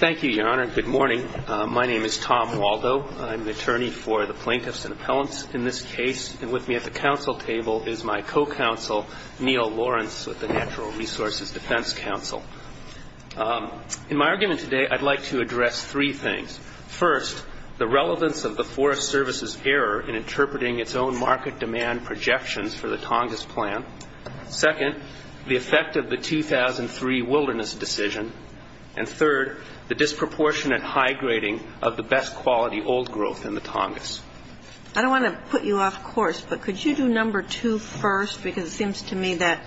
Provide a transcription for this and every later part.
Thank you, Your Honor, and good morning. My name is Tom Waldo. I'm the attorney for the Plaintiffs and Appellants in this case, and with me at the counsel table is my co-counsel, Neil Lawrence, with the Natural Resources Defense Council. In my argument today, I'd like to address three things. First, the relevance of the Forest Service's error in interpreting its own market demand projections for the Tongass plan. Second, the effect of the 2003 Wilderness decision. And third, the disproportionate high grading of the best quality old growth in the Tongass. I don't want to put you off course, but could you do number two first? Because it seems to me that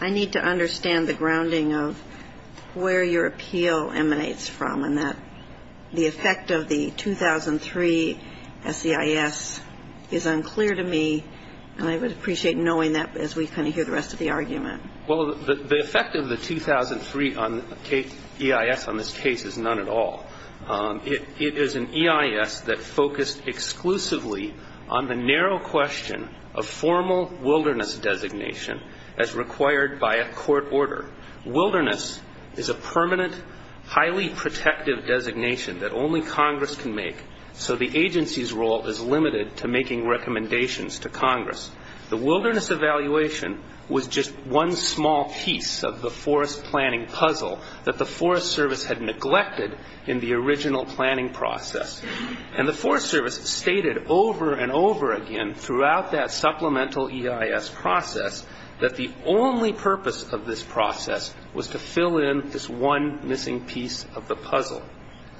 I need to understand the grounding of where your appeal emanates from, and that the effect of the 2003 SEIS is unclear to me, and I would appreciate knowing that as we kind of hear the rest of the argument. Well, the effect of the 2003 EIS on this case is none at all. It is an EIS that focused exclusively on the narrow question of formal wilderness designation as required by a court order. Wilderness is a permanent, highly protective designation that only Congress can make, so the agency's role is limited to making recommendations to Congress. The wilderness evaluation was just one small piece of the forest planning puzzle that the Forest Service had neglected in the original planning process. And the Forest Service stated over and over again throughout that supplemental EIS process that the only purpose of this process was to fill in this one missing piece of the puzzle.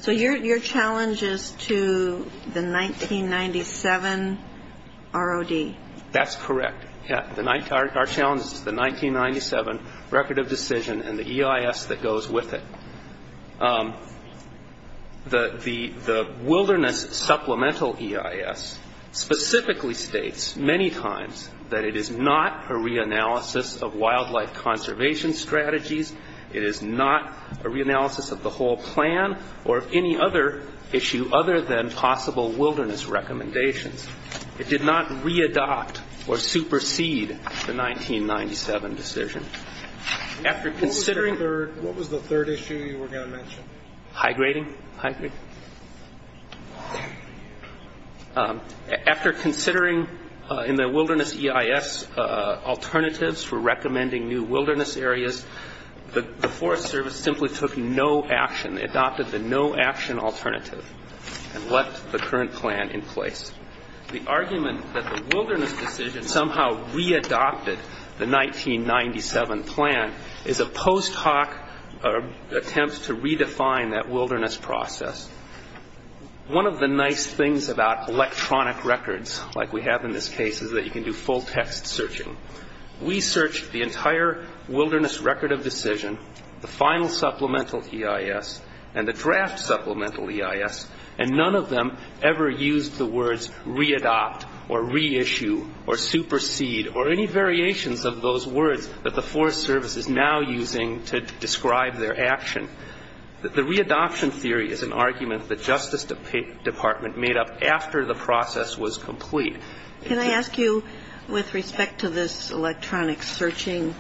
So your challenge is to the 1997 ROD? That's correct. Our challenge is to the 1997 Record of Decision and the EIS that goes with it. The wilderness supplemental EIS specifically states many times that it is not a realistic reanalysis of wildlife conservation strategies. It is not a reanalysis of the whole plan or any other issue other than possible wilderness recommendations. It did not re-adopt or supersede the 1997 decision. What was the third issue you were going to mention? High grading? After considering in the wilderness EIS alternatives for recommending new wilderness areas, the Forest Service simply took no action, adopted the no action alternative and left the current plan in place. The argument that the wilderness decision somehow re-adopted the 1997 plan is a post hoc attempt to redefine that wilderness process. One of the nice things about electronic records like we have in this case is that you can do full text searching. We searched the entire wilderness Record of Decision, the final supplemental EIS and the draft supplemental EIS and none of them ever used the words re-adopt or re-issue or supersede or any variations of those words that the Forest Service is now using to describe their action. The re-adoption theory is an argument that Justice Department made up after the process was complete. Can I ask you with respect to this electronic searching,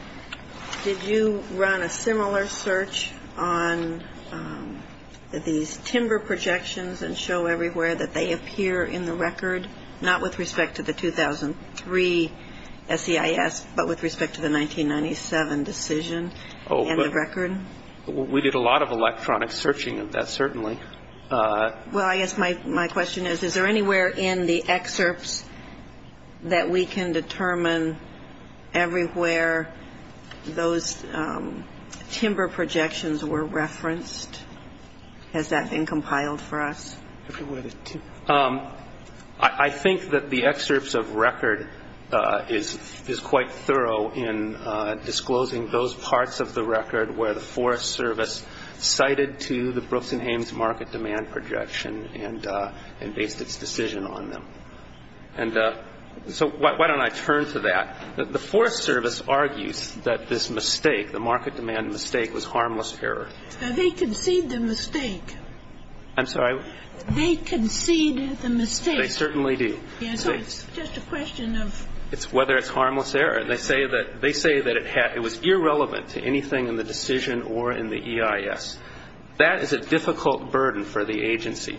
did you run a similar search on these timber projections and show everywhere that they appear in the record? Not with respect to the 2003 SEIS but with respect to the 1997 decision and the record? We did a lot of electronic searching of that certainly. Well I guess my question is, is there anywhere in the excerpts that we can determine everywhere those timber projections were referenced? Has that been compiled for us? I think that the excerpts of record is quite thorough in disclosing those parts of the record where the Forest Service cited to the Brooks and Hames Market Demand Projection and based its decision on them. So why don't I turn to that. The Forest Service argues that this mistake, the Market Demand Mistake, was harmless error. Have they conceived a mistake? I'm sorry? They concede the mistake. They certainly do. So it's just a question of? It's whether it's harmless error. They say that it was irrelevant to anything in the decision or in the EIS. That is a difficult burden for the agency.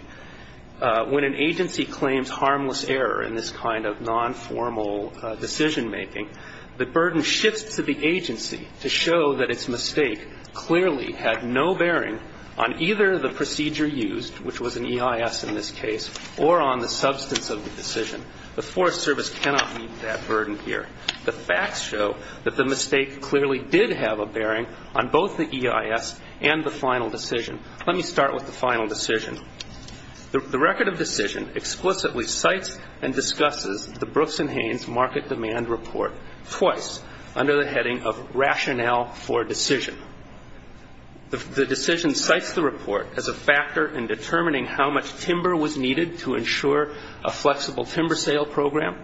When an agency claims harmless error in this kind of non-formal decision making, the burden shifts to the agency to show that its mistake clearly had no bearing on either the procedure used, which was an EIS in this case, or on the substance of the decision. The Forest Service cannot meet that burden here. The facts show that the mistake clearly did have a bearing on both the EIS and the final decision. Let me start with the final decision. The record of decision explicitly cites and discusses the Brooks and Haynes Market Demand Report twice under the heading of Rationale for Decision. The decision cites the report as a factor in determining how much timber was needed to ensure a flexible timber sale program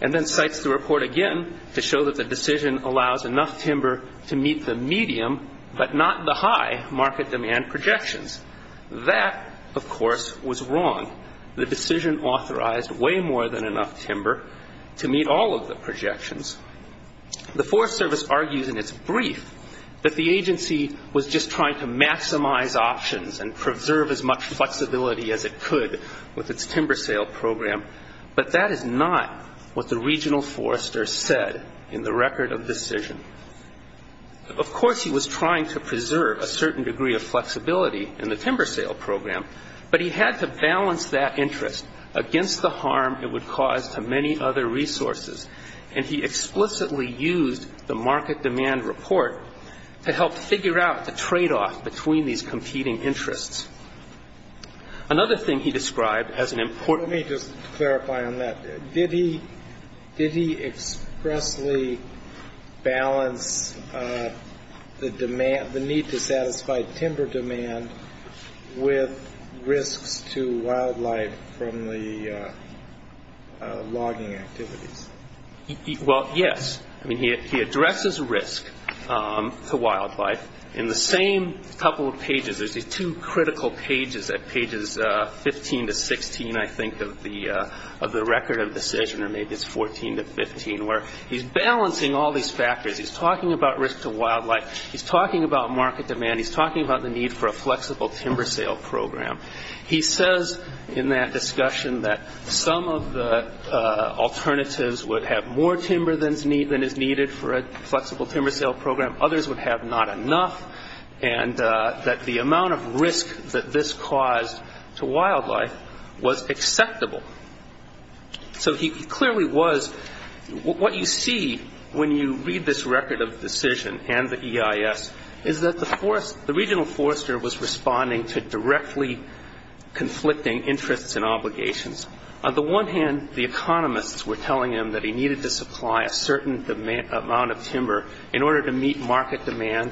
and then cites the report again to show that the decision allows enough timber to meet the medium but not the high market demand projections. That, of course, was wrong. The decision authorized way more than enough timber to meet all of the projections. The Forest Service argues in its brief that the agency was just trying to maximize options and preserve as much flexibility as it could with its timber sale program. But that is not what the regional forester said in the record of decision. Of course, he was trying to preserve a certain degree of flexibility in the timber sale program, but he had to balance that interest against the harm it would cause to many other resources. And he explicitly used the Market Demand Report to help figure out the tradeoff between these competing interests. Another thing he described as an important... Let me just clarify on that. Did he expressly balance the demand, the need to satisfy timber demand with risks to wildlife from the logging activities? Well, yes. He addresses risk to wildlife in the same couple of pages. There's these two critical pages at pages 15 to 16, I think, of the record of decision, or maybe it's 14 to 15, where he's balancing all these factors. He's talking about risk to wildlife. He's talking about market demand. He's talking about the need for a flexible timber sale program. He says in that discussion that some of the alternatives would have more timber than is needed for a flexible timber sale program. Others would have not enough. And that the amount of risk that this caused to wildlife was acceptable. So he clearly was... What you see when you read this record of decision and the EIS is that the regional forester was responding to directly conflicting interests and obligations. On the one hand, the economists were telling him that he needed to supply a certain amount of timber in order to meet market demand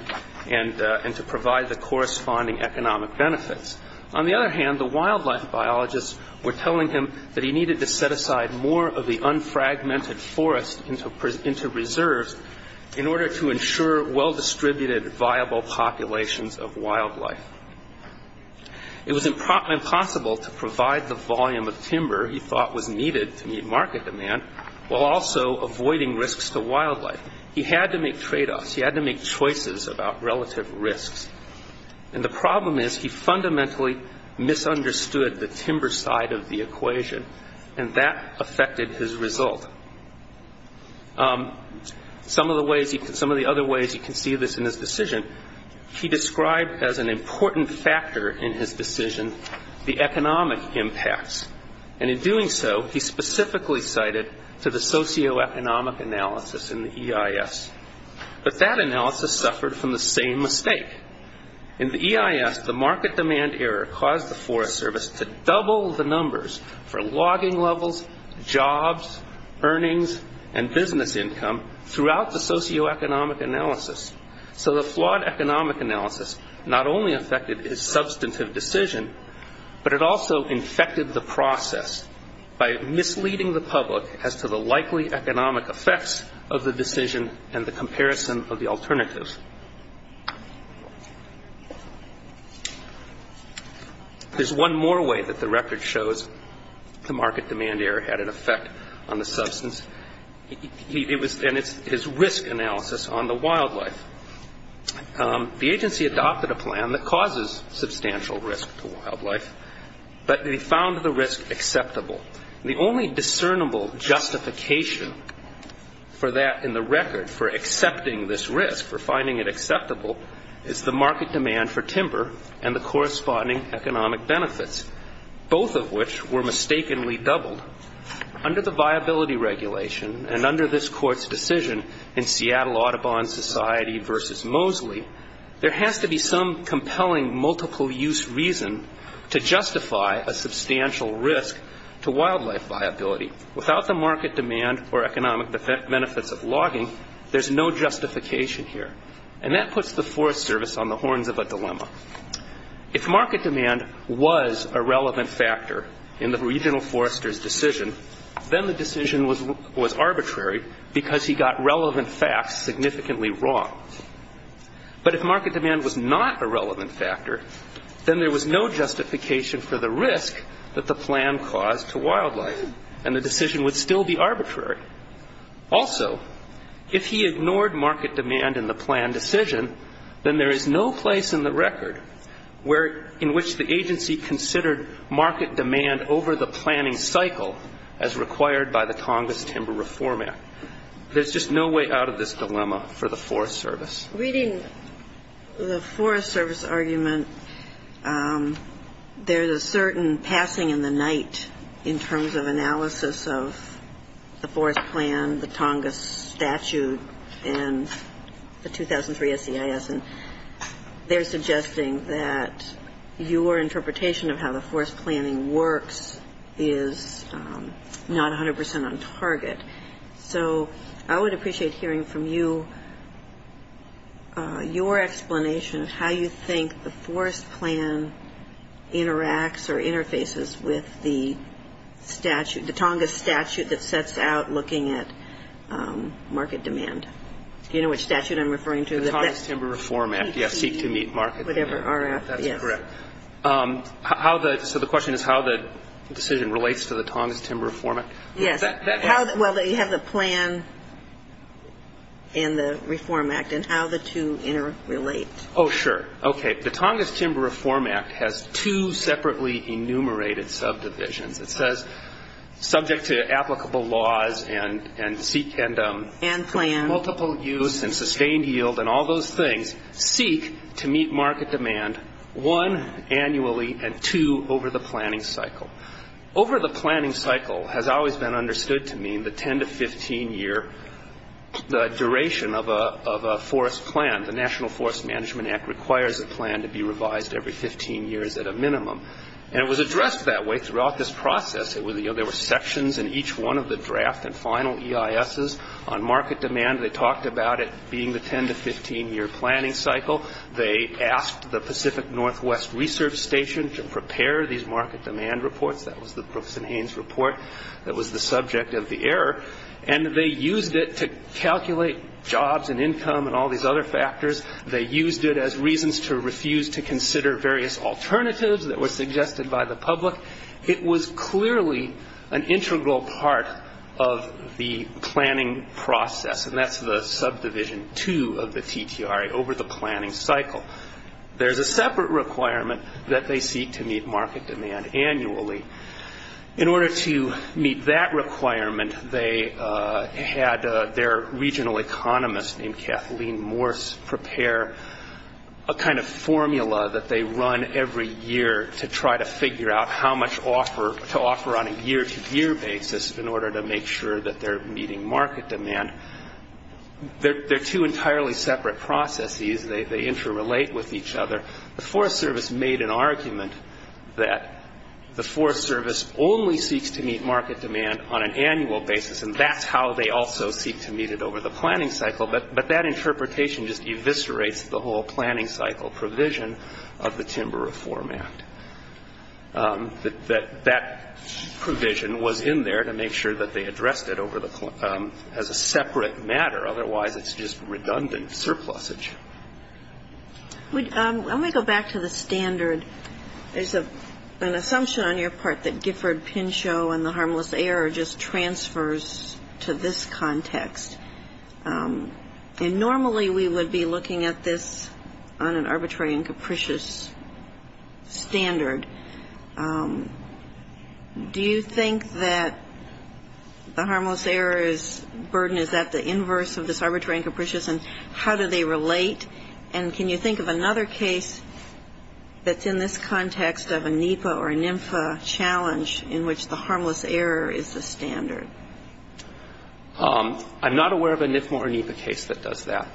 and to provide the corresponding economic benefits. On the other hand, the wildlife biologists were telling him that he needed to set aside more of the unfragmented forest into reserves in order to ensure well-distributed, viable populations of wildlife. It was impossible to provide the volume of timber he thought was needed to meet market demand while also avoiding risks to wildlife. He had to make tradeoffs. He had to make choices about relative risks. And the problem is he fundamentally misunderstood the timber side of the equation. And that affected his result. Some of the other ways you can see this in his decision, he described as an important factor in his decision the economic impacts. And in doing so, he specifically cited to the socioeconomic analysis in the EIS. But that analysis suffered from the same mistake. In the EIS, the market demand error caused the forest service to double the numbers for logging levels, jobs, earnings, and business income throughout the socioeconomic analysis. So the flawed economic analysis not only affected his substantive decision, but it also infected the process by misleading the public as to the likely economic effects of the decision and the comparison of the alternatives. There's one more way that the record shows the market demand error had an effect on the substance. And it's his risk analysis on the wildlife. The agency adopted a plan that causes substantial risk to wildlife, but they found the risk acceptable. The only discernible justification for that in the record, for accepting this risk, for finding it acceptable, is the market demand for timber and the corresponding economic benefits, both of which were mistakenly doubled. Under the viability regulation and under this Court's decision in Seattle Audubon Society v. Mosley, there has to be some compelling multiple-use reason to justify a substantial risk to wildlife viability. Without the market demand or economic benefits of logging, there's no justification here. And that puts the forest service on the horns of a dilemma. If market demand was a relevant factor in the regional forester's decision, then the decision would still be arbitrary. But if market demand was not a relevant factor, then there was no justification for the risk that the plan caused to wildlife, and the decision would still be arbitrary. Also, if he ignored market demand in the plan decision, then there is no place in the record where, in which the agency considered market demand over the planning cycle as The forest service argument, there's a certain passing in the night in terms of analysis of the forest plan, the Tongass statute, and the 2003 SEIS. And they're suggesting that your interpretation of how the forest planning works is not 100 percent on target. So I would like more explanation of how you think the forest plan interacts or interfaces with the statute, the Tongass statute that sets out looking at market demand. Do you know which statute I'm referring to? The Tongass Timber Reform Act, yes, seek to meet market demand. That's correct. So the question is how the decision relates to the Tongass Timber Reform Act? Yes. Well, you have the plan and the reform act and how the two interrelate. Oh, sure. Okay. The Tongass Timber Reform Act has two separately enumerated subdivisions. It says subject to applicable laws and seek and multiple use and sustained yield and all those things, seek to meet market demand, one, annually, and two, over the planning cycle. Over the planning cycle has always been understood to mean the 10 to 15 year duration of a forest plan. The National Forest Management Act requires a plan to be revised every 15 years at a minimum. And it was addressed that way throughout this process. There were sections in each one of the draft and final EISs on market demand. They talked about it being the 10 to 15 year planning cycle. They asked the Pacific Northwest Research Station to prepare these market demand reports. That was the Brooks and Haynes report that was the subject of the error. And they used it to calculate jobs and income and all these other factors. They used it as reasons to refuse to consider various alternatives that were suggested by the public. It was clearly an integral part of the planning process. And that's the subdivision two of the TTRA, over the planning cycle. There's a separate requirement that they seek to meet market demand annually. In order to meet that requirement, they had their regional economist named Kathleen Morse prepare a kind of formula that they run every year to try to figure out how much to offer on a year-to-year basis in order to make sure that they're meeting market demand. They're two entirely separate processes. They interrelate with each other. The Forest Service made an argument that the Forest Service only seek to meet it over the planning cycle. But that interpretation just eviscerates the whole planning cycle provision of the Timber Reform Act. That provision was in there to make sure that they addressed it as a separate matter. Otherwise, it's just redundant surplusage. Let me go back to the standard. There's an assumption on your part that Gifford, Pinchot and the Harmless Error just transfers to this context. And normally we would be looking at this on an arbitrary and capricious standard. Do you think that the Harmless Error's burden is at the inverse of this arbitrary and capricious? And how do they relate? And can you think of another case that's in this context of a NEPA or NMFA challenge in which the Harmless Error is the standard? I'm not aware of a NEPA or NIMFA case that does that.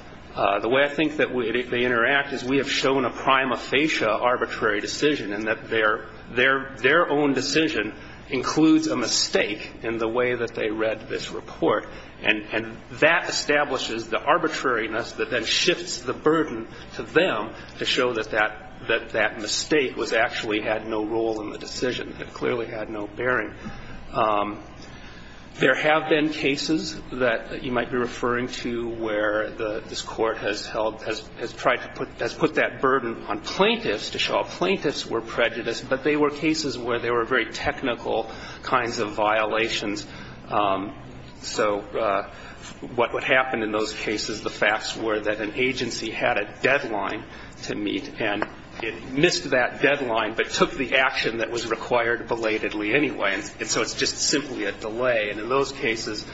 The way I think that they interact is we have shown a prima facie arbitrary decision in that their own decision includes a mistake in the way that they read this report. And that establishes the arbitrariness that then shifts the burden to them to show that that mistake actually had no role in the decision. It clearly had no bearing. There have been cases that you might be referring to where this Court has put that burden on plaintiffs to show that they are not responsible for their own decisions. So what would happen in those cases, the facts were that an agency had a deadline to meet and it missed that deadline but took the action that was required belatedly anyway. And so it's just simply a delay. And in those cases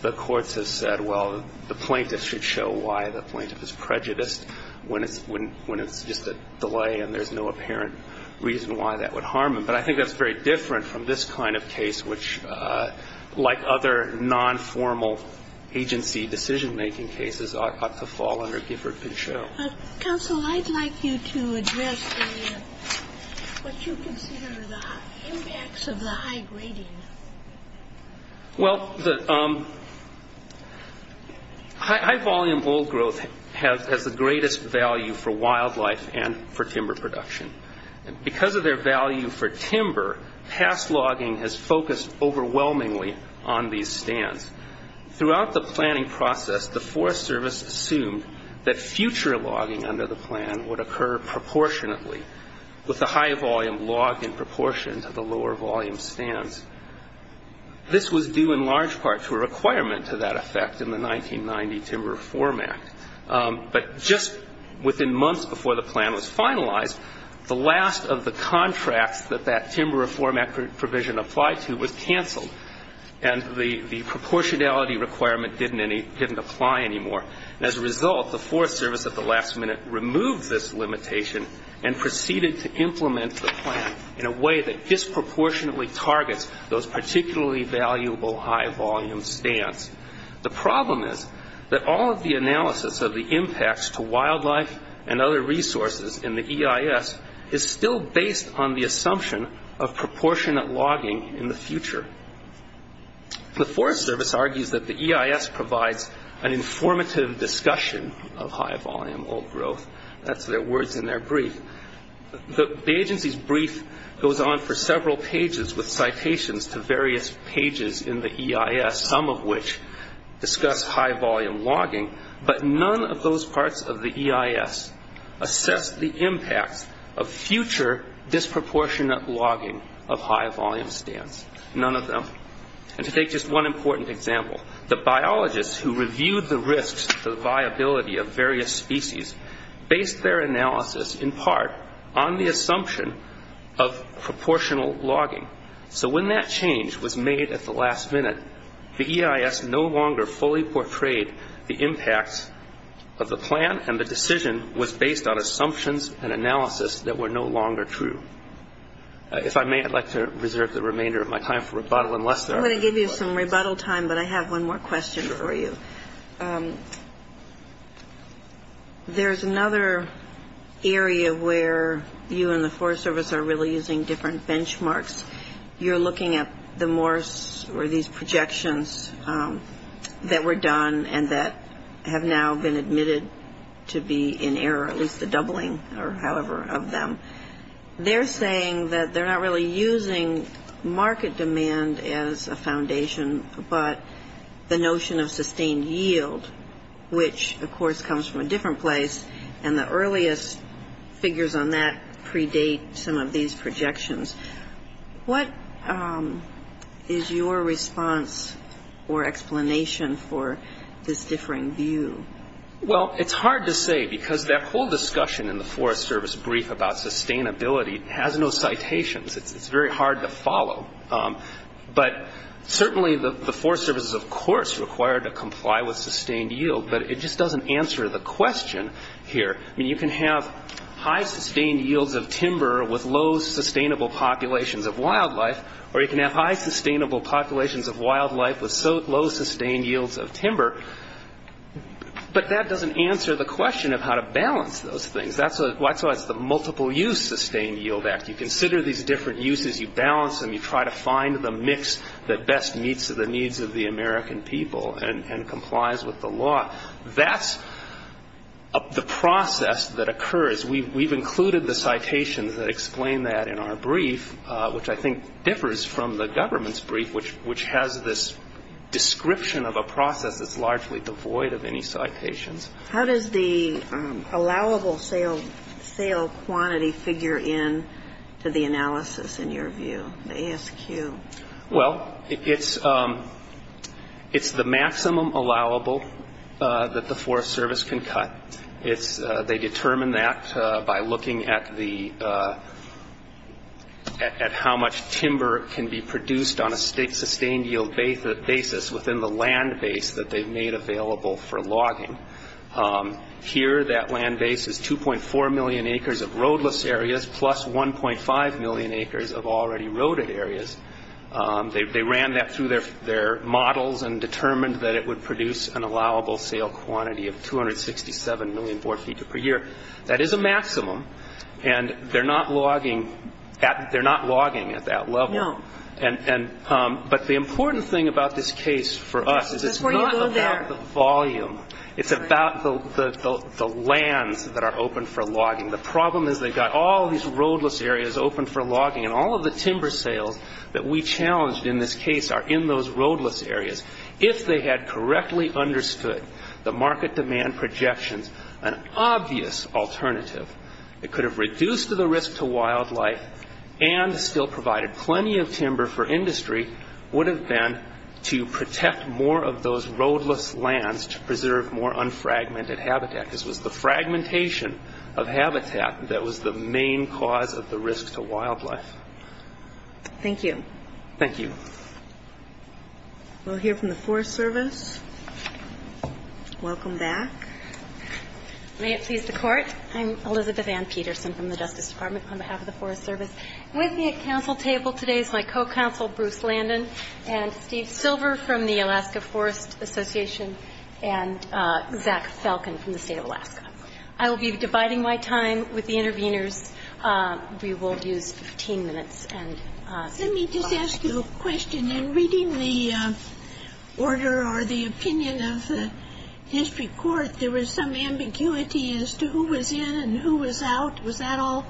the courts have said, well, the plaintiff should show why the plaintiff is prejudiced when it's just a delay and there's no apparent reason why that would harm them. But I think that's very different from this kind of case which, like other non-formal agency decision-making cases, ought to fall under Gifford-Pinchot. Counsel, I'd like you to address what you consider the impacts of the high grading. Well, the high volume old growth has the greatest value for wildlife and for timber production. Because of their value for timber, past logging has focused overwhelmingly on these stands. Throughout the planning process, the Forest Service assumed that future logging under the plan would occur proportionately, with the high volume logged in proportion to the lower volume stands. This was due in large part to a requirement to that effect in the 1990 Timber Reform Act. But just within months before the plan was finalized, the last of the contracts that that Timber Reform Act provision applied to was canceled. And the proportionality requirement didn't apply anymore. As a result, the Forest Service, at the last minute, removed this limitation and proceeded to implement the plan in a way that disproportionately targets those particularly valuable high volume stands. The problem is that all of the analysis of the impacts to wildlife and other resources in the EIS is still based on the assumption of proportionate logging in the future. The Forest Service argues that the EIS provides an informative discussion of high volume old growth. That's their words in their brief. The agency's brief goes on for several pages with citations to various pages in the EIS, some of which discuss high volume logging, but none of those parts of the EIS assess the impacts of future disproportionate logging of high volume stands. None of them. And to take just one important example, the biologists who reviewed the risks to the viability of various species based their analysis in part on the assumption of proportional logging. So when that change was made at the last minute, the EIS no longer fully portrayed the impacts of the plan and the decision was based on assumptions and analysis that were no longer true. If I may, I'd like to reserve the remainder of my time for rebuttal. I'm going to give you some rebuttal time, but I have one more question for you. There's another area where you and the Forest Service are really using different benchmarks. You're looking at the Morse or these projections that were done and that have now been admitted to be in error, at least the doubling or however of them. They're saying that they're not really using market demand as a foundation, but the notion of sustained yield, which of course comes from a different place, and the earliest figures on that predate some of these projections. What is your response or explanation for this differing view? Well, it's hard to say because that whole discussion in the Forest Service brief about sustainability has no citations. It's very hard to follow. But certainly the Forest Service is of course required to comply with sustained yield, but it just doesn't answer the question here. You can have high sustained yields of timber with low sustainable populations of wildlife, or you can have high sustainable populations of wildlife with low sustained yields of timber, but that doesn't answer the question of how to balance those things. That's why it's the Multiple Use Sustained Yield Act. You consider these different uses, you balance them, you try to find the mix that best meets the needs of the American people and complies with the law. That's the process that occurs. We've included the citations that explain that in our brief, which I think differs from the government's brief, which has this description of a process that's largely devoid of any citations. How does the allowable sale quantity figure in to the analysis in your view, the ASQ? Well, it's the maximum allowable that the Forest Service can cut. They determine that by looking at how much timber can be produced on a sustained yield basis within the land base that they've made available for logging. Here, that land base is 2.4 million acres of roadless areas, plus 1.5 million acres of already roaded areas. They ran that through their models and determined that it would produce an allowable sale quantity of 267 million four feet per year. That is a maximum, and they're not logging at that level. No. But the important thing about this case for us is it's not about the volume. It's about the lands that are open for logging. The problem is they've got all these roadless areas open for logging, and all of the timber sales that we challenged in this case are in those roadless areas. If they had correctly understood the market demand projections, an obvious alternative, it could have reduced the risk to wildlife and still provided plenty of timber for industry would have been to protect more of those roadless lands to preserve more unfragmented habitat. This was the fragmentation of habitat that was the main cause of the risk to wildlife. Thank you. Thank you. We'll hear from the Forest Service. Welcome back. May it please the Court. I'm Elizabeth Ann Peterson from the Justice Department on behalf of the Forest Service. With me at council table today is my co-counsel, Bruce Landon, and Steve Silver from the Alaska Forest Association, and Zach Falcon from the state of Alaska. I will be dividing my time with the interveners. We will use 15 minutes. Let me just ask you a question. In reading the order or the opinion of the district court, there was some ambiguity as to who was in and who was out. Was that all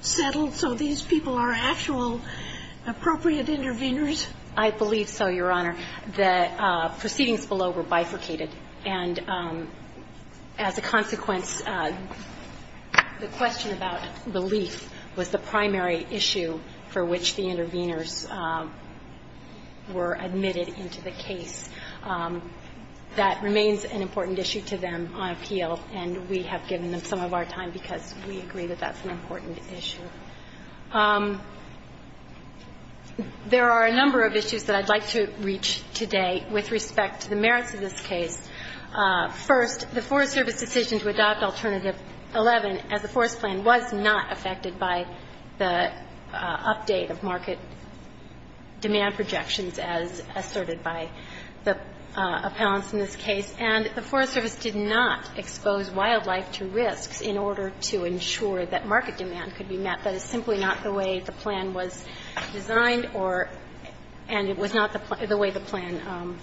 settled so these people are actual appropriate interveners? I believe so, Your Honor. The proceedings below were bifurcated, and as a consequence, the question about relief was the primary issue for which the interveners were admitted into the case. That remains an important issue to them on appeal, and we have given them some of our time because we agree that that's an important issue. There are a number of issues that I'd like to reach today with respect to the merits of this case. First, the Forest Service decision to adopt Alternative 11 as a forest plan was not affected by the update of market demand projections as asserted by the appellants in this case, and the Forest Service did not expose wildlife to risks in order to ensure that market demand could be met. That is simply not the way the plan was designed, and it was not the way the plan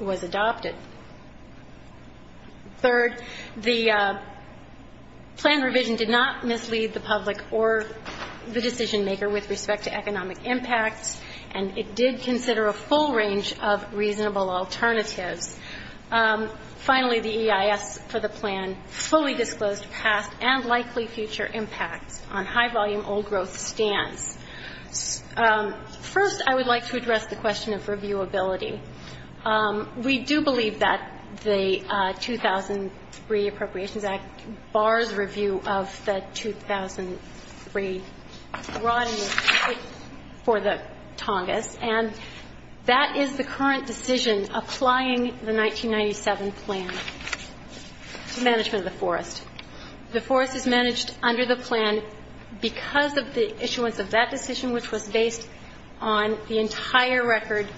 was adopted. Third, the plan revision did not mislead the public or the decision-maker with respect to economic impacts, and it did consider a full range of reasonable alternatives. Finally, the EIS for the plan fully disclosed past and likely future impacts on high-volume old-growth stands. First, I would like to address the question of reviewability. We do believe that the 2003 Appropriations Act bars review of the 2003 rod and the pipe for the Tongass, and that is the current decision applying the 1997 plan to management of the forest. The forest is managed under the plan because of the issuance of that plan. That decision, which was based on the entire record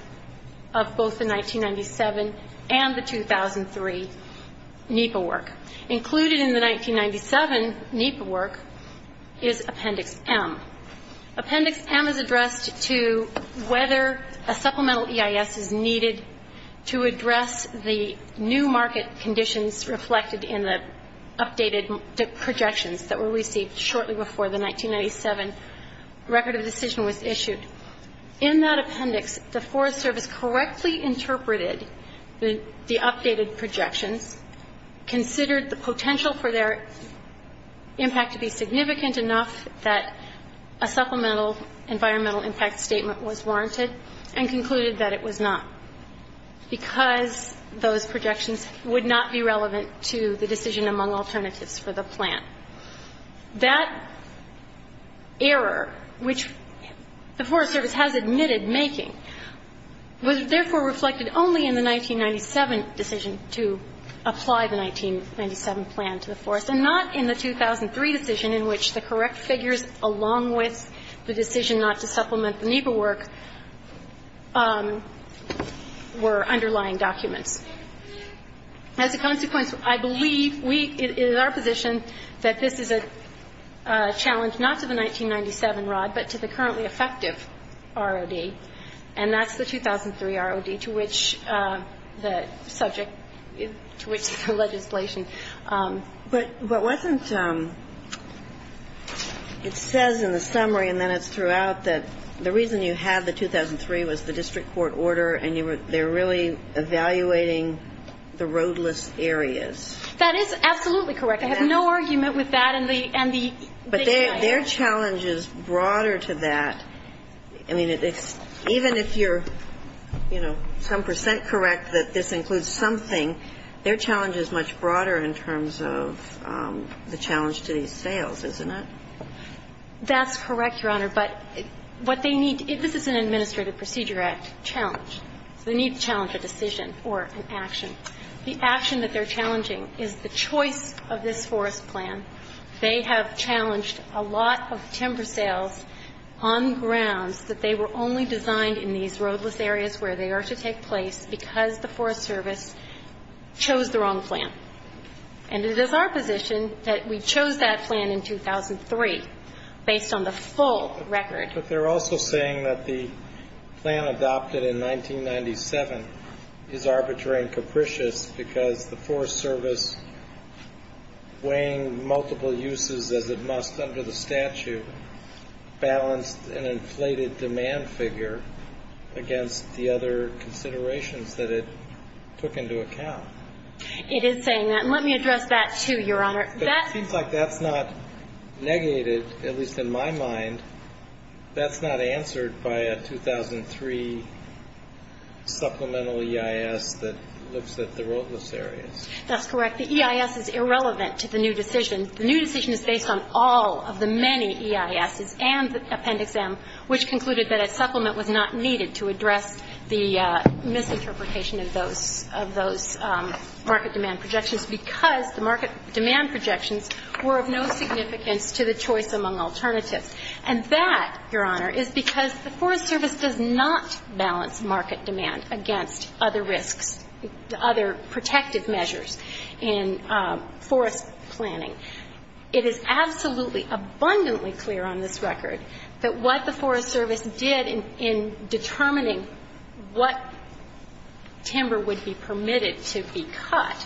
of both the 1997 and the 2003 NEPA work. Included in the 1997 NEPA work is Appendix M. Appendix M is addressed to whether a supplemental EIS is needed to address the new market conditions reflected in the updated projections that were received shortly before the 1997 record of decision was issued. In that appendix, the Forest Service correctly interpreted the updated projections, considered the potential for their impact to be significant enough that a supplemental environmental impact statement was warranted, and concluded that it was not because those conditions were met. That error, which the Forest Service has admitted making, was therefore reflected only in the 1997 decision to apply the 1997 plan to the forest, and not in the 2003 decision in which the correct figures along with the decision not to supplement the NEPA work were underlying documents. As a consequence, I believe we, it is our position that this is a challenge not to the 1997 ROD, but to the currently effective ROD, and that's the 2003 ROD, to which the subject, to which the legislation. But wasn't, it says in the summary and then it's throughout that the reason you had the roadless areas. That is absolutely correct. I have no argument with that and the, and the. But their challenge is broader to that. I mean, even if you're, you know, some percent correct that this includes something, their challenge is much broader in terms of the challenge to these sales, isn't it? That's correct, Your Honor. But what they need, this is an Administrative Procedure Act challenge. So they need to challenge a decision or an action. The action that they're challenging is the choice of this forest plan. They have challenged a lot of timber sales on grounds that they were only designed in these roadless areas where they are to take place because the Forest Service chose the wrong plan. And it is our position that we chose that plan in 2003 based on the full record. But they're also saying that the plan adopted in 1997 is arbitrary and capricious because the Forest Service, weighing multiple uses as it must under the statute, balanced an inflated demand figure against the other considerations that it took into account. It is saying that. And let me address that, too, Your Honor. It seems like that's not negated, at least in my mind. That's not answered by a 2003 supplemental EIS that looks at the roadless areas. That's correct. The EIS is irrelevant to the new decision. The new decision is based on all of the many EISs and Appendix M, which concluded that a supplement was not needed to address the misinterpretation of those market demand projections. It's because the market demand projections were of no significance to the choice among alternatives. And that, Your Honor, is because the Forest Service does not balance market demand against other risks, other protective measures in forest planning. It is absolutely abundantly clear on this record that what the Forest Service did in determining what timber would be permitted to be cut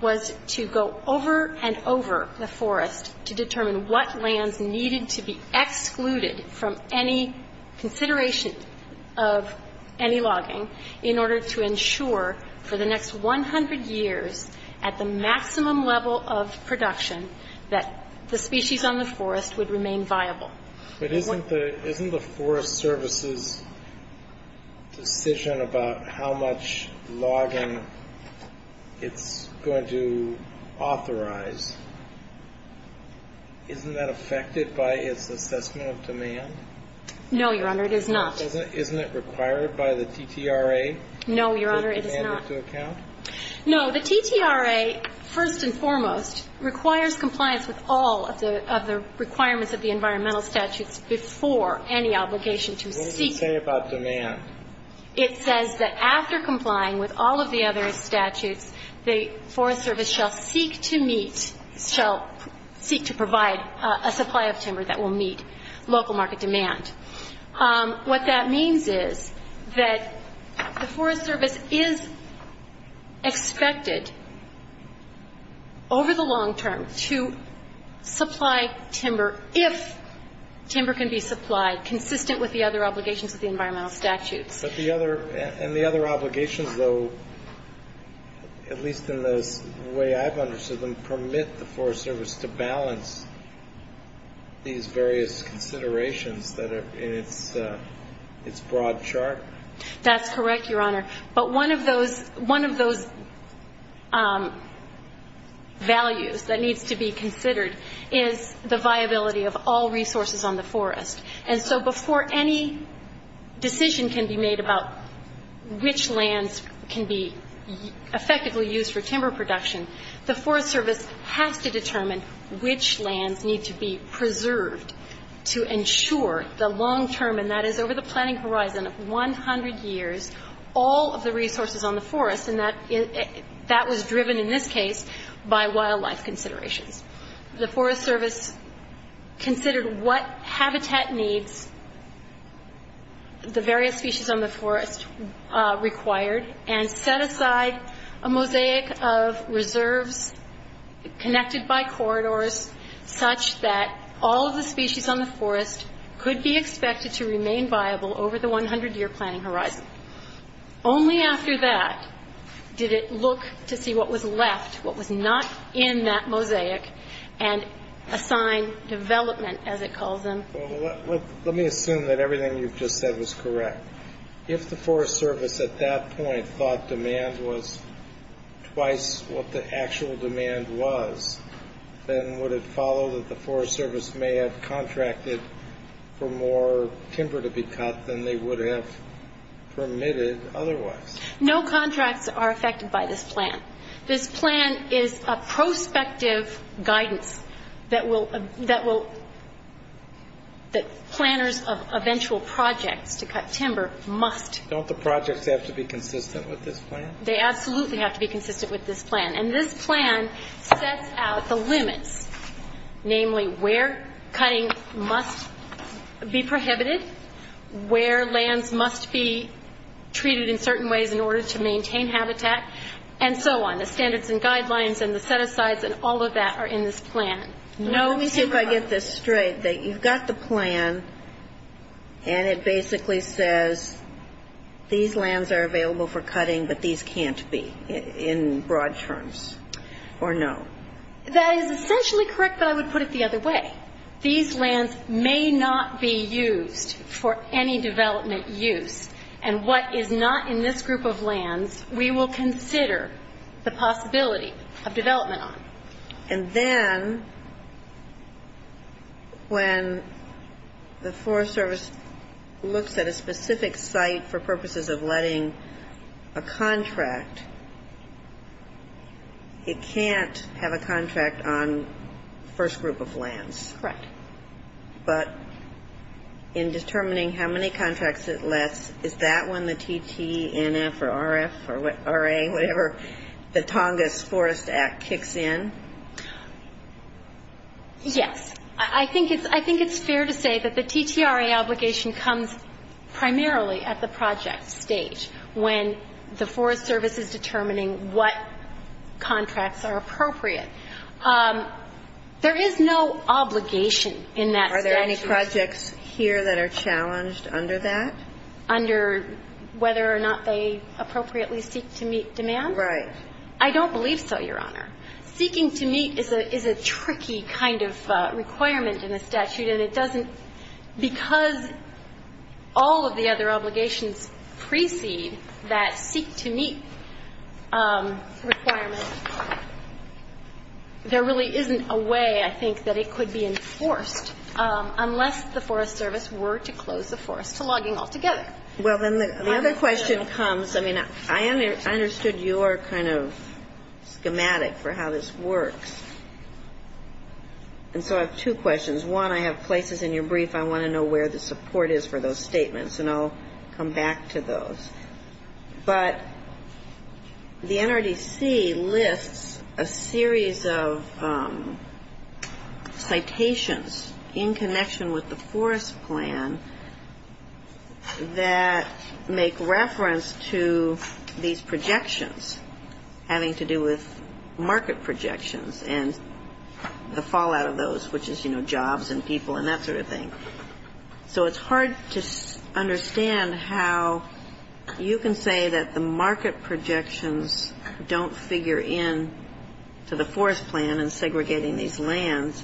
was to go over and over the forest to determine what lands needed to be excluded from any consideration of any logging in order to ensure for the next 100 years at the maximum level of production that the species on the forest would remain viable. But isn't the Forest Service's decision about how much logging it's going to authorize, isn't that affected by its assessment of demand? No, Your Honor, it is not. Isn't it required by the TTRA to take demand into account? No, Your Honor, it is not. No, the TTRA, first and foremost, requires compliance with all of the requirements of the environmental statutes before any obligation to seek... What does it say about demand? It says that after complying with all of the other statutes, the Forest Service shall seek to provide a supply of timber that will meet local market demand. What that means is that the Forest Service is expected over the long term to supply timber if timber can be supplied, consistent with the other obligations of the environmental statutes. And the other obligations, though, at least in the way I've understood them, permit the Forest Service to balance these various considerations that are in its broad chart? That's correct, Your Honor. But one of those values that needs to be considered is the viability of all resources on the forest. And so before any decision can be made about which lands can be effectively used for timber production, the Forest Service has to determine which lands need to be preserved to ensure the long term, and that is over the planning horizon of 100 years, all of the resources on the forest. And that was driven, in this case, by wildlife considerations. The Forest Service considered what habitat needs the various species on the forest required and set aside a mosaic of reserves connected by corridors such that all of the species on the forest could be expected to remain viable over the 100-year planning horizon. Only after that did it look to see what was left, what was not in that mosaic, and assign development, as it calls them. Well, let me assume that everything you've just said was correct. If the Forest Service at that point thought demand was twice what the actual demand was, then would it follow that the Forest Service may have contracted for more timber to be cut than they would have permitted otherwise? No contracts are affected by this plan. This plan is a prospective guidance that planners of eventual projects to cut timber must. Don't the projects have to be consistent with this plan? They absolutely have to be consistent with this plan. And this plan sets out the limits, namely where cutting must be prohibited, where lands must be treated in certain ways in order to maintain habitat, and so on. The standards and guidelines and the set-asides and all of that are in this plan. Let me see if I get this straight. You've got the plan, and it basically says these lands are available for cutting, but these can't be in broad terms, or no? That is essentially correct, but I would put it the other way. These lands may not be used for any development use, and what is not in this group of lands we will consider the possibility of development on. And then when the Forest Service looks at a specific site for purposes of letting a contract, it can't have a contract on the first group of lands. Correct. But in determining how many contracts it lets, is that when the TTNF or RF or RA, whatever, the Tongass Forest Act kicks in? Yes. I think it's fair to say that the TTRA obligation comes primarily at the project stage, when the Forest Service is determining what contracts are appropriate. There is no obligation in that statute. Are there projects here that are challenged under that? Under whether or not they appropriately seek to meet demand? Right. I don't believe so, Your Honor. Seeking to meet is a tricky kind of requirement in the statute, and it doesn't because all of the other obligations precede that seek-to-meet requirement, there really isn't a way, I think, that it could be enforced, unless the Forest Service were to close the forest to logging altogether. Well, then the other question comes, I mean, I understood your kind of schematic for how this works. And so I have two questions. One, I have places in your brief I want to know where the support is for those statements, and I'll come back to those. But the NRDC lists a series of citations in connection with the forest plan that make reference to these projections, having to do with market projections and the fallout of those, which is, you know, jobs and people and that sort of thing. So it's hard to understand how you can say that the market projections don't figure in to the forest plan and segregating these lands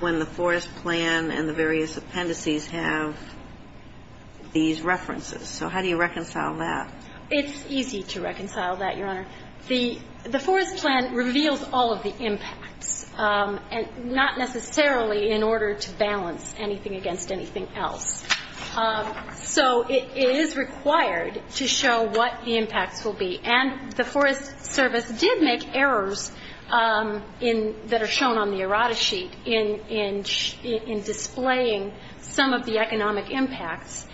when the forest plan and the various appendices have these references. So how do you reconcile that? It's easy to reconcile that, Your Honor. The forest plan reveals all of the impacts, and not necessarily in order to balance anything against anything else. So it is required to show what the impacts will be, and the Forest Service did make errors that are shown on the errata sheet in displaying some of the economic impacts.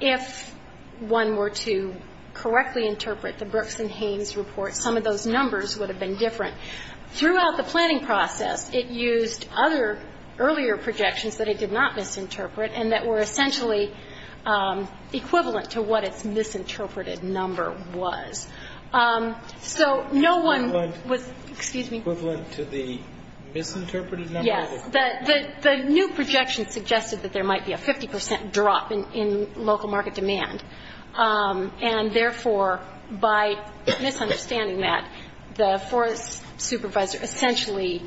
If one were to correctly interpret the Brooks and Haynes report, some of those numbers would have been different. Throughout the planning process, it used other earlier projections that it did not misinterpret and that were essentially equivalent to what its misinterpreted number was. So no one was, excuse me. Equivalent to the misinterpreted number? Yes. The new projection suggested that there might be a 50 percent drop in local market demand, and therefore, by misunderstanding that, the forest supervisor essentially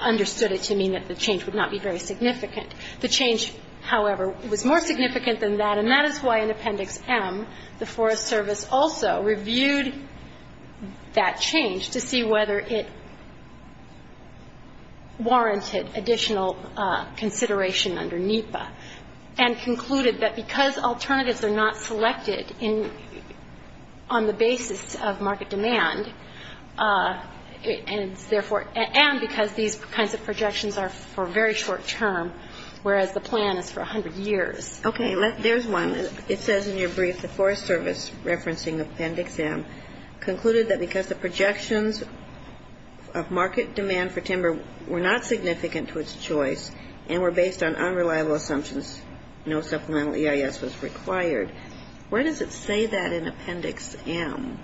understood it to mean that the change would not be very significant. The change, however, was more significant than that, and that is why in Appendix M, the Forest Service also reviewed that change to see whether it warranted additional consideration under NEPA, and concluded that because alternatives are not selected on the basis of market demand, and because these kinds of projections are for very short term, whereas the plan is for 100 years. Okay, there's one. It says in your brief, the Forest Service, referencing Appendix M, concluded that because the projections of market demand for timber were not significant to its choice and were based on unreliable assumptions, no supplemental EIS was required. Where does it say that in Appendix M?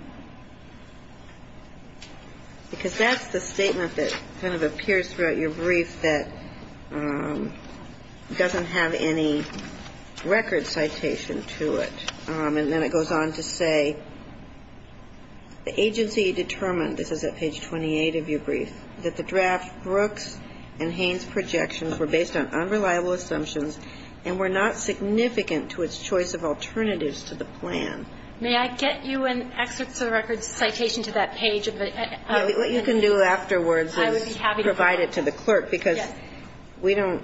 Because that's the statement that kind of appears throughout your brief that doesn't have any record citation to it, and then it goes on to say the agency determined, this is at page 28 of your brief, that the draft Brooks and Haynes projections were based on unreliable assumptions and were not significant to its choice of alternatives to the plan. May I get you an excerpt of the record citation to that page? What you can do afterwards is provide it to the clerk, because we don't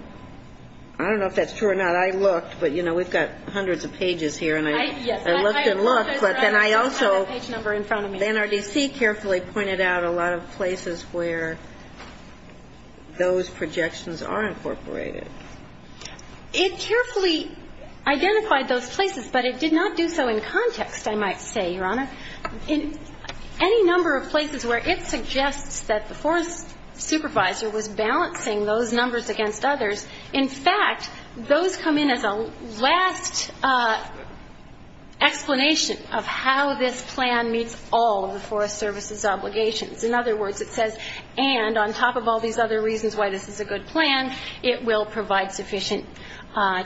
– I don't know if that's true or not. I looked, but, you know, we've got hundreds of pages here, and I looked and looked, but then I also – I have the page number in front of me. NRDC carefully pointed out a lot of places where those projections are incorporated. It carefully identified those places, but it did not do so in context, I might say, Your Honor. In any number of places where it suggests that the Forest Supervisor was balancing those numbers against others, in fact, those come in as a last explanation of how this plan meets all of the Forest Service's obligations. In other words, it says, and on top of all these other reasons why this is a good plan, it will provide sufficient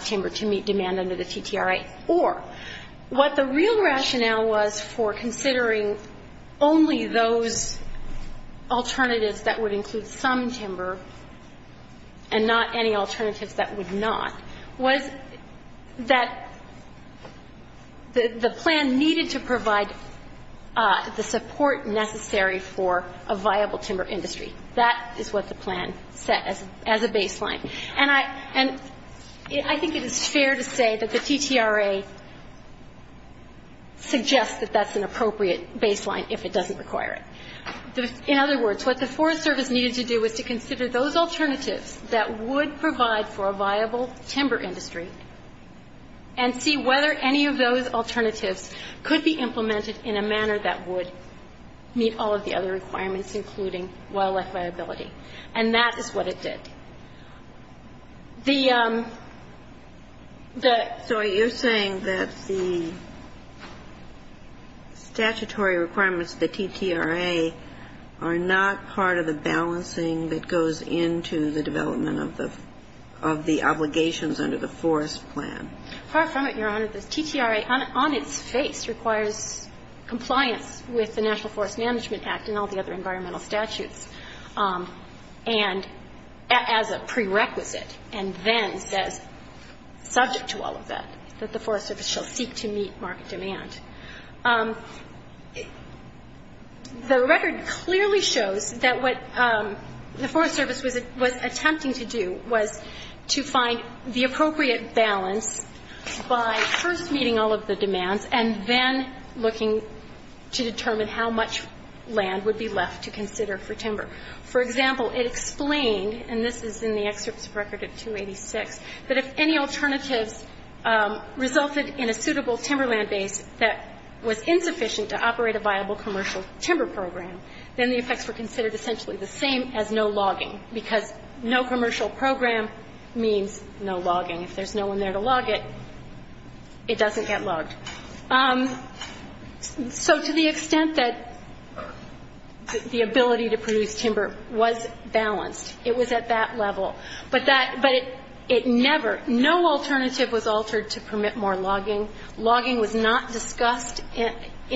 timber to meet demand under the TTRA. Or what the real rationale was for considering only those alternatives that would include some timber and not any alternatives that would not, was that the plan needed to provide the support necessary for a viable timber industry. That is what the plan set as a baseline. And I think it is fair to say that the TTRA suggests that that's an appropriate baseline if it doesn't require it. In other words, what the Forest Service needed to do was to consider those alternatives that would provide for a viable timber industry and see whether any of those alternatives could be implemented in a manner that would meet all of the other requirements, including wildlife viability. And that is what it did. The ‑‑ So you're saying that the statutory requirements of the TTRA are not part of the balancing that goes into the development of the obligations under the Forest plan. Far from it, Your Honor. The TTRA on its face requires compliance with the National Forest Management Act and all the other environmental statutes. And as a prerequisite, and then says, subject to all of that, that the Forest Service shall seek to meet market demand. The record clearly shows that what the Forest Service was attempting to do was to find the appropriate balance by first meeting all of the demands and then looking to determine how much land would be left to consider for timber. For example, it explained, and this is in the excerpts of record at 286, that if any alternatives resulted in a suitable timber land base that was insufficient to operate a viable commercial timber program, then the effects were considered essentially the same as no logging because no commercial program means no logging. If there's no one there to log it, it doesn't get logged. So to the extent that the ability to produce timber was balanced, it was at that level. But it never ‑‑ no alternative was altered to permit more logging. Logging was not discussed in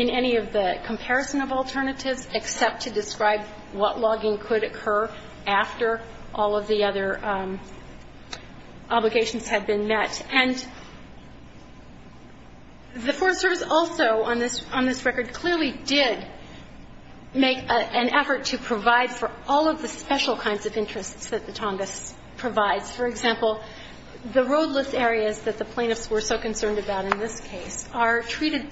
any of the comparison of alternatives except to describe what logging could occur after all of the other obligations had been met. And the Forest Service also, on this record, clearly did make an effort to provide for all of the special kinds of interests that the Tongass provides. For example, the roadless areas that the plaintiffs were so concerned about in this case are treated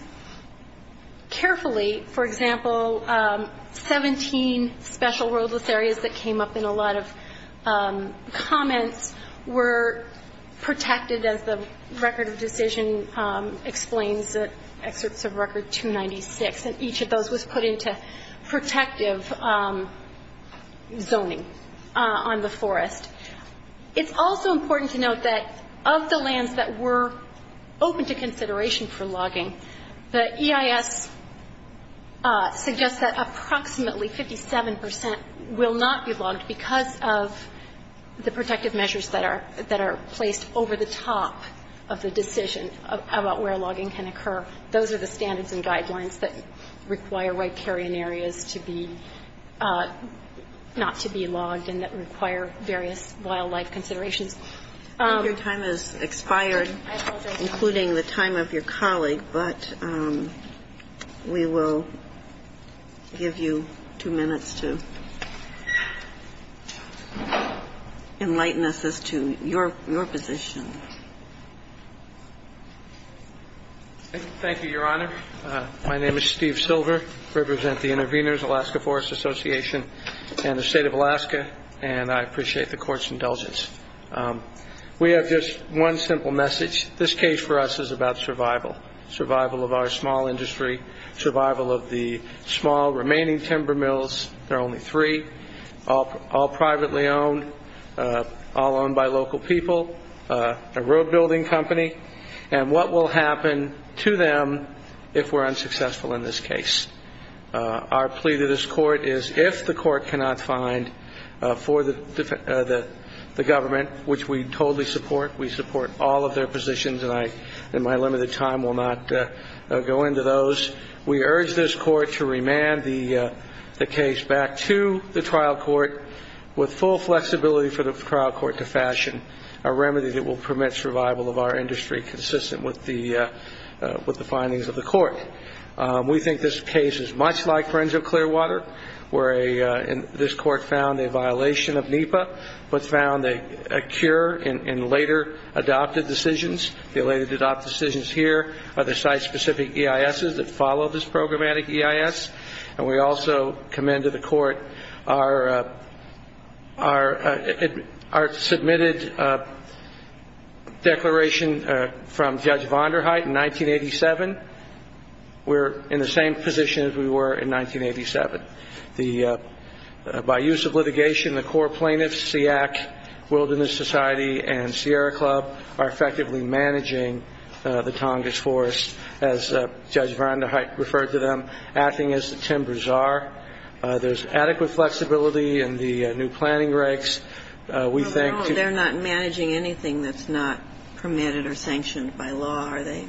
carefully. For example, 17 special roadless areas that came up in a lot of comments were protected as the record of decision explains, excerpts of record 296. And each of those was put into protective zoning on the forest. It's also important to note that of the lands that were open to consideration for logging, the EIS suggests that approximately 57 percent will not be logged because of the protective measures that are placed over the top of the decision about where logging can occur. Those are the standards and guidelines that require riparian areas to be ‑‑ that require various wildlife considerations. Your time has expired, including the time of your colleague, but we will give you two minutes to enlighten us as to your position. Thank you, Your Honor. My name is Steve Silver. I represent the intervenors, Alaska Forest Association and the state of Alaska, and I appreciate the court's indulgence. We have just one simple message. This case for us is about survival, survival of our small industry, survival of the small remaining timber mills. There are only three, all privately owned, all owned by local people, a road building company, and what will happen to them if we're unsuccessful in this case. Our plea to this court is if the court cannot find for the government, which we totally support, we support all of their positions, and my limited time will not go into those, we urge this court to remand the case back to the trial court with full flexibility for the trial court to fashion a remedy that will permit survival of our industry consistent with the findings of the court. We think this case is much like Forenzo Clearwater, where this court found a violation of NEPA, but found a cure in later adopted decisions. The later adopted decisions here are the site-specific EISs that follow this programmatic EIS, and we also commend to the court our submitted declaration from Judge Vonderheide in 1987. We're in the same position as we were in 1987. By use of litigation, the core plaintiffs, SEAC, Wilderness Society, and Sierra Club, are effectively managing the Tongass Forest, as Judge Vonderheide referred to them, acting as the Timbers are. There's adequate flexibility in the new planning regs. We think to the court. They're not managing anything that's not permitted or sanctioned by law, are they?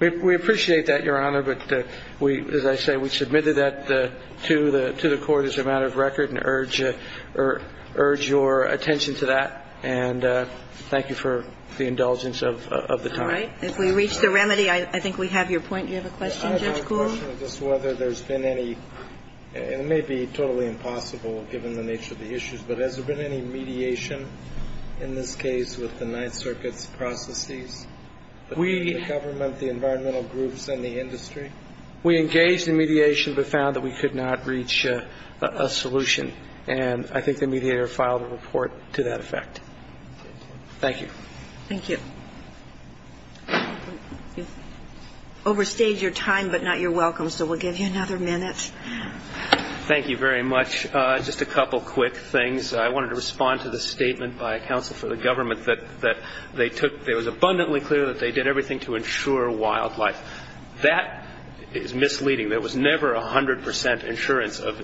We appreciate that, Your Honor, but we, as I say, we submitted that to the court as a matter of record and urge your attention to that, and thank you for the indulgence of the time. All right. If we reach the remedy, I think we have your point. Do you have a question, Judge Kuhl? I have a question as to whether there's been any, and it may be totally impossible given the nature of the issues, but has there been any mediation in this case with the Ninth Circuit's processes, the government, the environmental groups, and the industry? We engaged in mediation but found that we could not reach a solution, and I think the mediator filed a report to that effect. Thank you. Thank you. You've overstayed your time but not your welcome, so we'll give you another minute. Thank you very much. Just a couple quick things. I wanted to respond to the statement by counsel for the government that they took, it was abundantly clear that they did everything to ensure wildlife. That is misleading. There was never 100 percent insurance of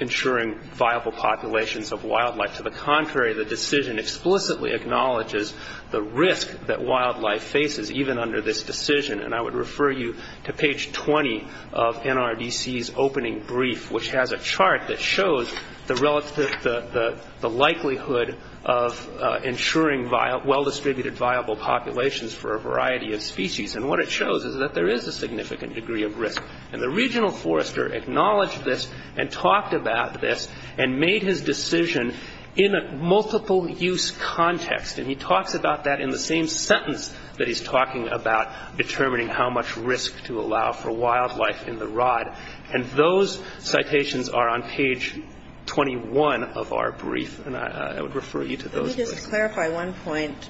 ensuring viable populations of wildlife. To the contrary, the decision explicitly acknowledges the risk that wildlife faces even under this decision. I would refer you to page 20 of NRDC's opening brief, which has a chart that shows the likelihood of ensuring well-distributed viable populations for a variety of species. What it shows is that there is a significant degree of risk. The regional forester acknowledged this and talked about this and made his decision in a multiple-use context, and he talks about that in the same sentence that he's talking about, determining how much risk to allow for wildlife in the rod. And those citations are on page 21 of our brief, and I would refer you to those. Let me just clarify one point.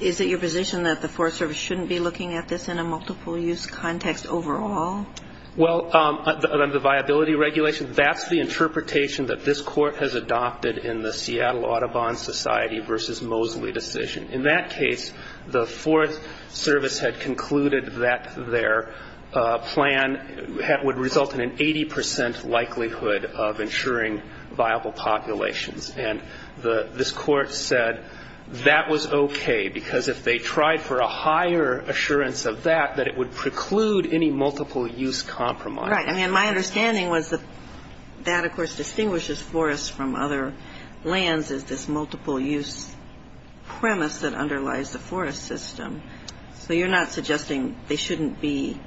Is it your position that the Forest Service shouldn't be looking at this in a multiple-use context overall? Well, under the viability regulation, that's the interpretation that this court has adopted in the Seattle Audubon Society v. Mosley decision. In that case, the Forest Service had concluded that their plan would result in an 80 percent likelihood of ensuring viable populations, and this court said that was okay, because if they tried for a higher assurance of that, that it would preclude any multiple-use compromise. Right. I mean, my understanding was that that, of course, distinguishes forests from other lands, is this multiple-use premise that underlies the forest system. So you're not suggesting that shouldn't be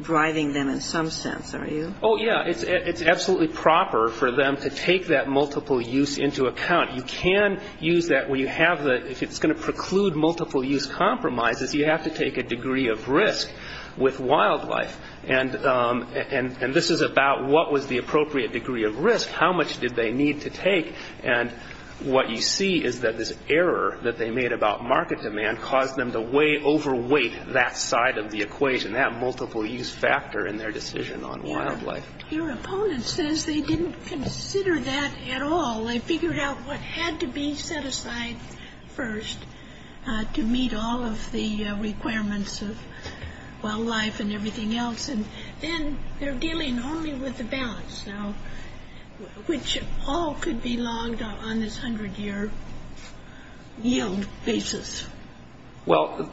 driving them in some sense, are you? Oh, yeah. It's absolutely proper for them to take that multiple use into account. You can use that where you have the, if it's going to preclude multiple-use compromises, you have to take a degree of risk with wildlife. And this is about what was the appropriate degree of risk, how much did they need to take, and what you see is that this error that they made about market demand caused them to way overweight that side of the equation, that multiple-use factor in their decision on wildlife. Your opponent says they didn't consider that at all. They figured out what had to be set aside first to meet all of the requirements of wildlife and everything else, and then they're dealing only with the balance, which all could be logged on this hundred-year yield basis. Well,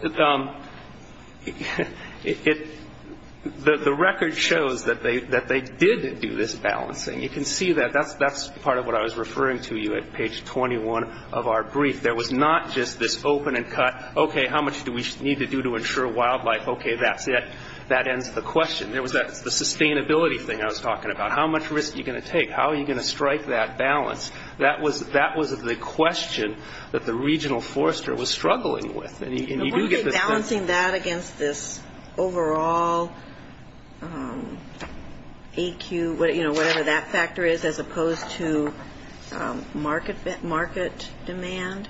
the record shows that they did do this balancing. You can see that. That's part of what I was referring to you at page 21 of our brief. There was not just this open and cut, okay, how much do we need to do to ensure wildlife? Okay, that's it. That ends the question. There was the sustainability thing I was talking about. How much risk are you going to take? How are you going to strike that balance? That was the question that the regional forester was struggling with. And you do get this balance. But weren't they balancing that against this overall AQ, whatever that factor is, as opposed to market demand?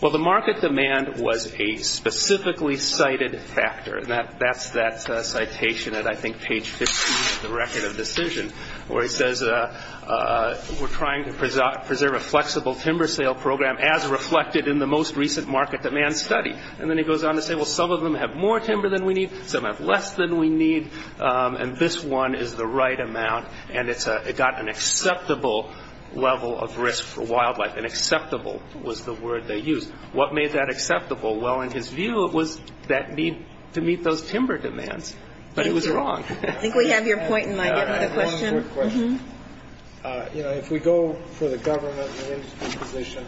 Well, the market demand was a specifically cited factor. That's that citation at, I think, page 15 of the record of decision, where it says, we're trying to preserve a flexible timber sale program as reflected in the most recent market demand study. And then he goes on to say, well, some of them have more timber than we need. Some have less than we need. And this one is the right amount, and it got an acceptable level of risk for wildlife. And acceptable was the word they used. What made that acceptable? Well, in his view, it was that need to meet those timber demands. But it was wrong. Thank you. I think we have your point in mind. Do you have another question? I have one quick question. You know, if we go for the government and industry position,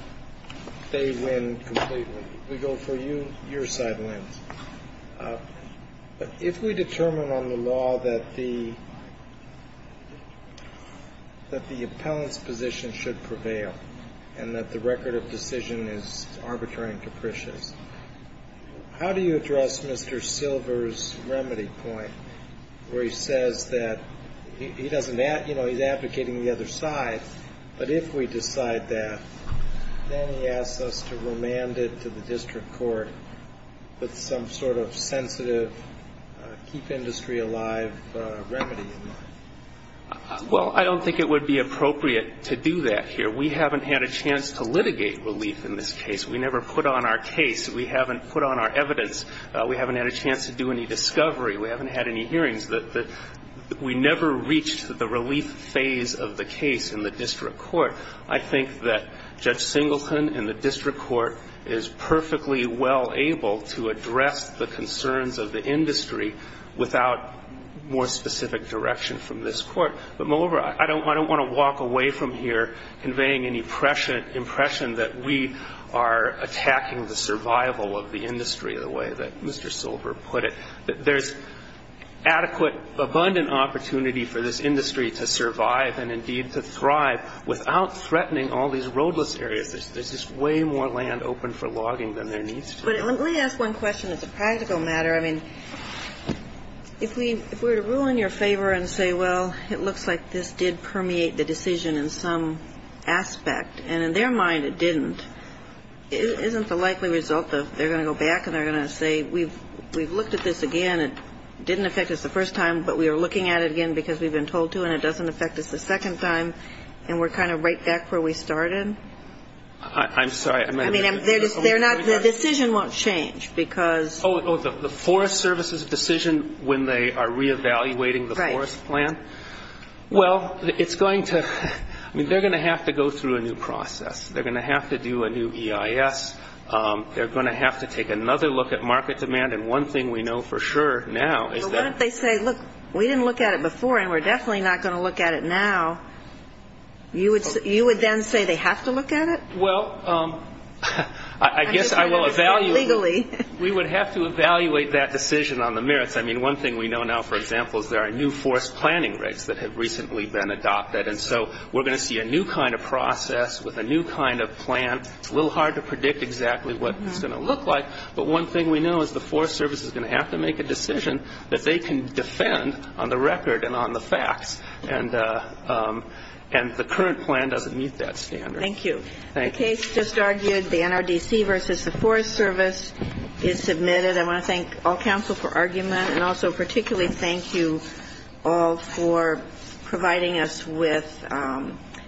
they win completely. If we go for you, your side wins. But if we determine on the law that the appellant's position should prevail and that the record of decision is arbitrary and capricious, how do you address Mr. Silver's remedy point where he says that he doesn't, you know, he's advocating the other side, but if we decide that, then he asks us to remand it to the district court with some sort of sensitive keep industry alive remedy in mind. Well, I don't think it would be appropriate to do that here. We haven't had a chance to litigate relief in this case. We never put on our case. We haven't put on our evidence. We haven't had a chance to do any discovery. We haven't had any hearings. We never reached the relief phase of the case in the district court. I think that Judge Singleton and the district court is perfectly well able to address the concerns of the industry without more specific direction from this court. But, moreover, I don't want to walk away from here conveying any impression that we are attacking the survival of the industry the way that Mr. Silver put it. There's adequate, abundant opportunity for this industry to survive and, indeed, to thrive without threatening all these roadless areas. There's just way more land open for logging than there needs to be. But let me ask one question that's a practical matter. I mean, if we were to rule in your favor and say, well, it looks like this did permeate the decision in some aspect, and in their mind it didn't, isn't the likely result that they're going to go back and they're going to say, we've looked at this again, it didn't affect us the first time, but we are looking at it again because we've been told to and it doesn't affect us the second time, and we're kind of right back where we started? I'm sorry. I mean, they're not the decision won't change because... Oh, the Forest Service's decision when they are reevaluating the forest plan? Right. Well, it's going to, I mean, they're going to have to go through a new process. They're going to have to do a new EIS. They're going to have to take another look at market demand, and one thing we know for sure now is that... If they say, look, we didn't look at it before and we're definitely not going to look at it now, you would then say they have to look at it? Well, I guess I will evaluate... Legally. We would have to evaluate that decision on the merits. I mean, one thing we know now, for example, is there are new forest planning rigs that have recently been adopted, and so we're going to see a new kind of process with a new kind of plan. It's a little hard to predict exactly what it's going to look like, but one thing we know is the Forest Service is going to have to make a decision that they can defend on the record and on the facts, and the current plan doesn't meet that standard. Thank you. The case just argued, the NRDC versus the Forest Service is submitted. I want to thank all counsel for argument, and also particularly thank you all for providing us with information.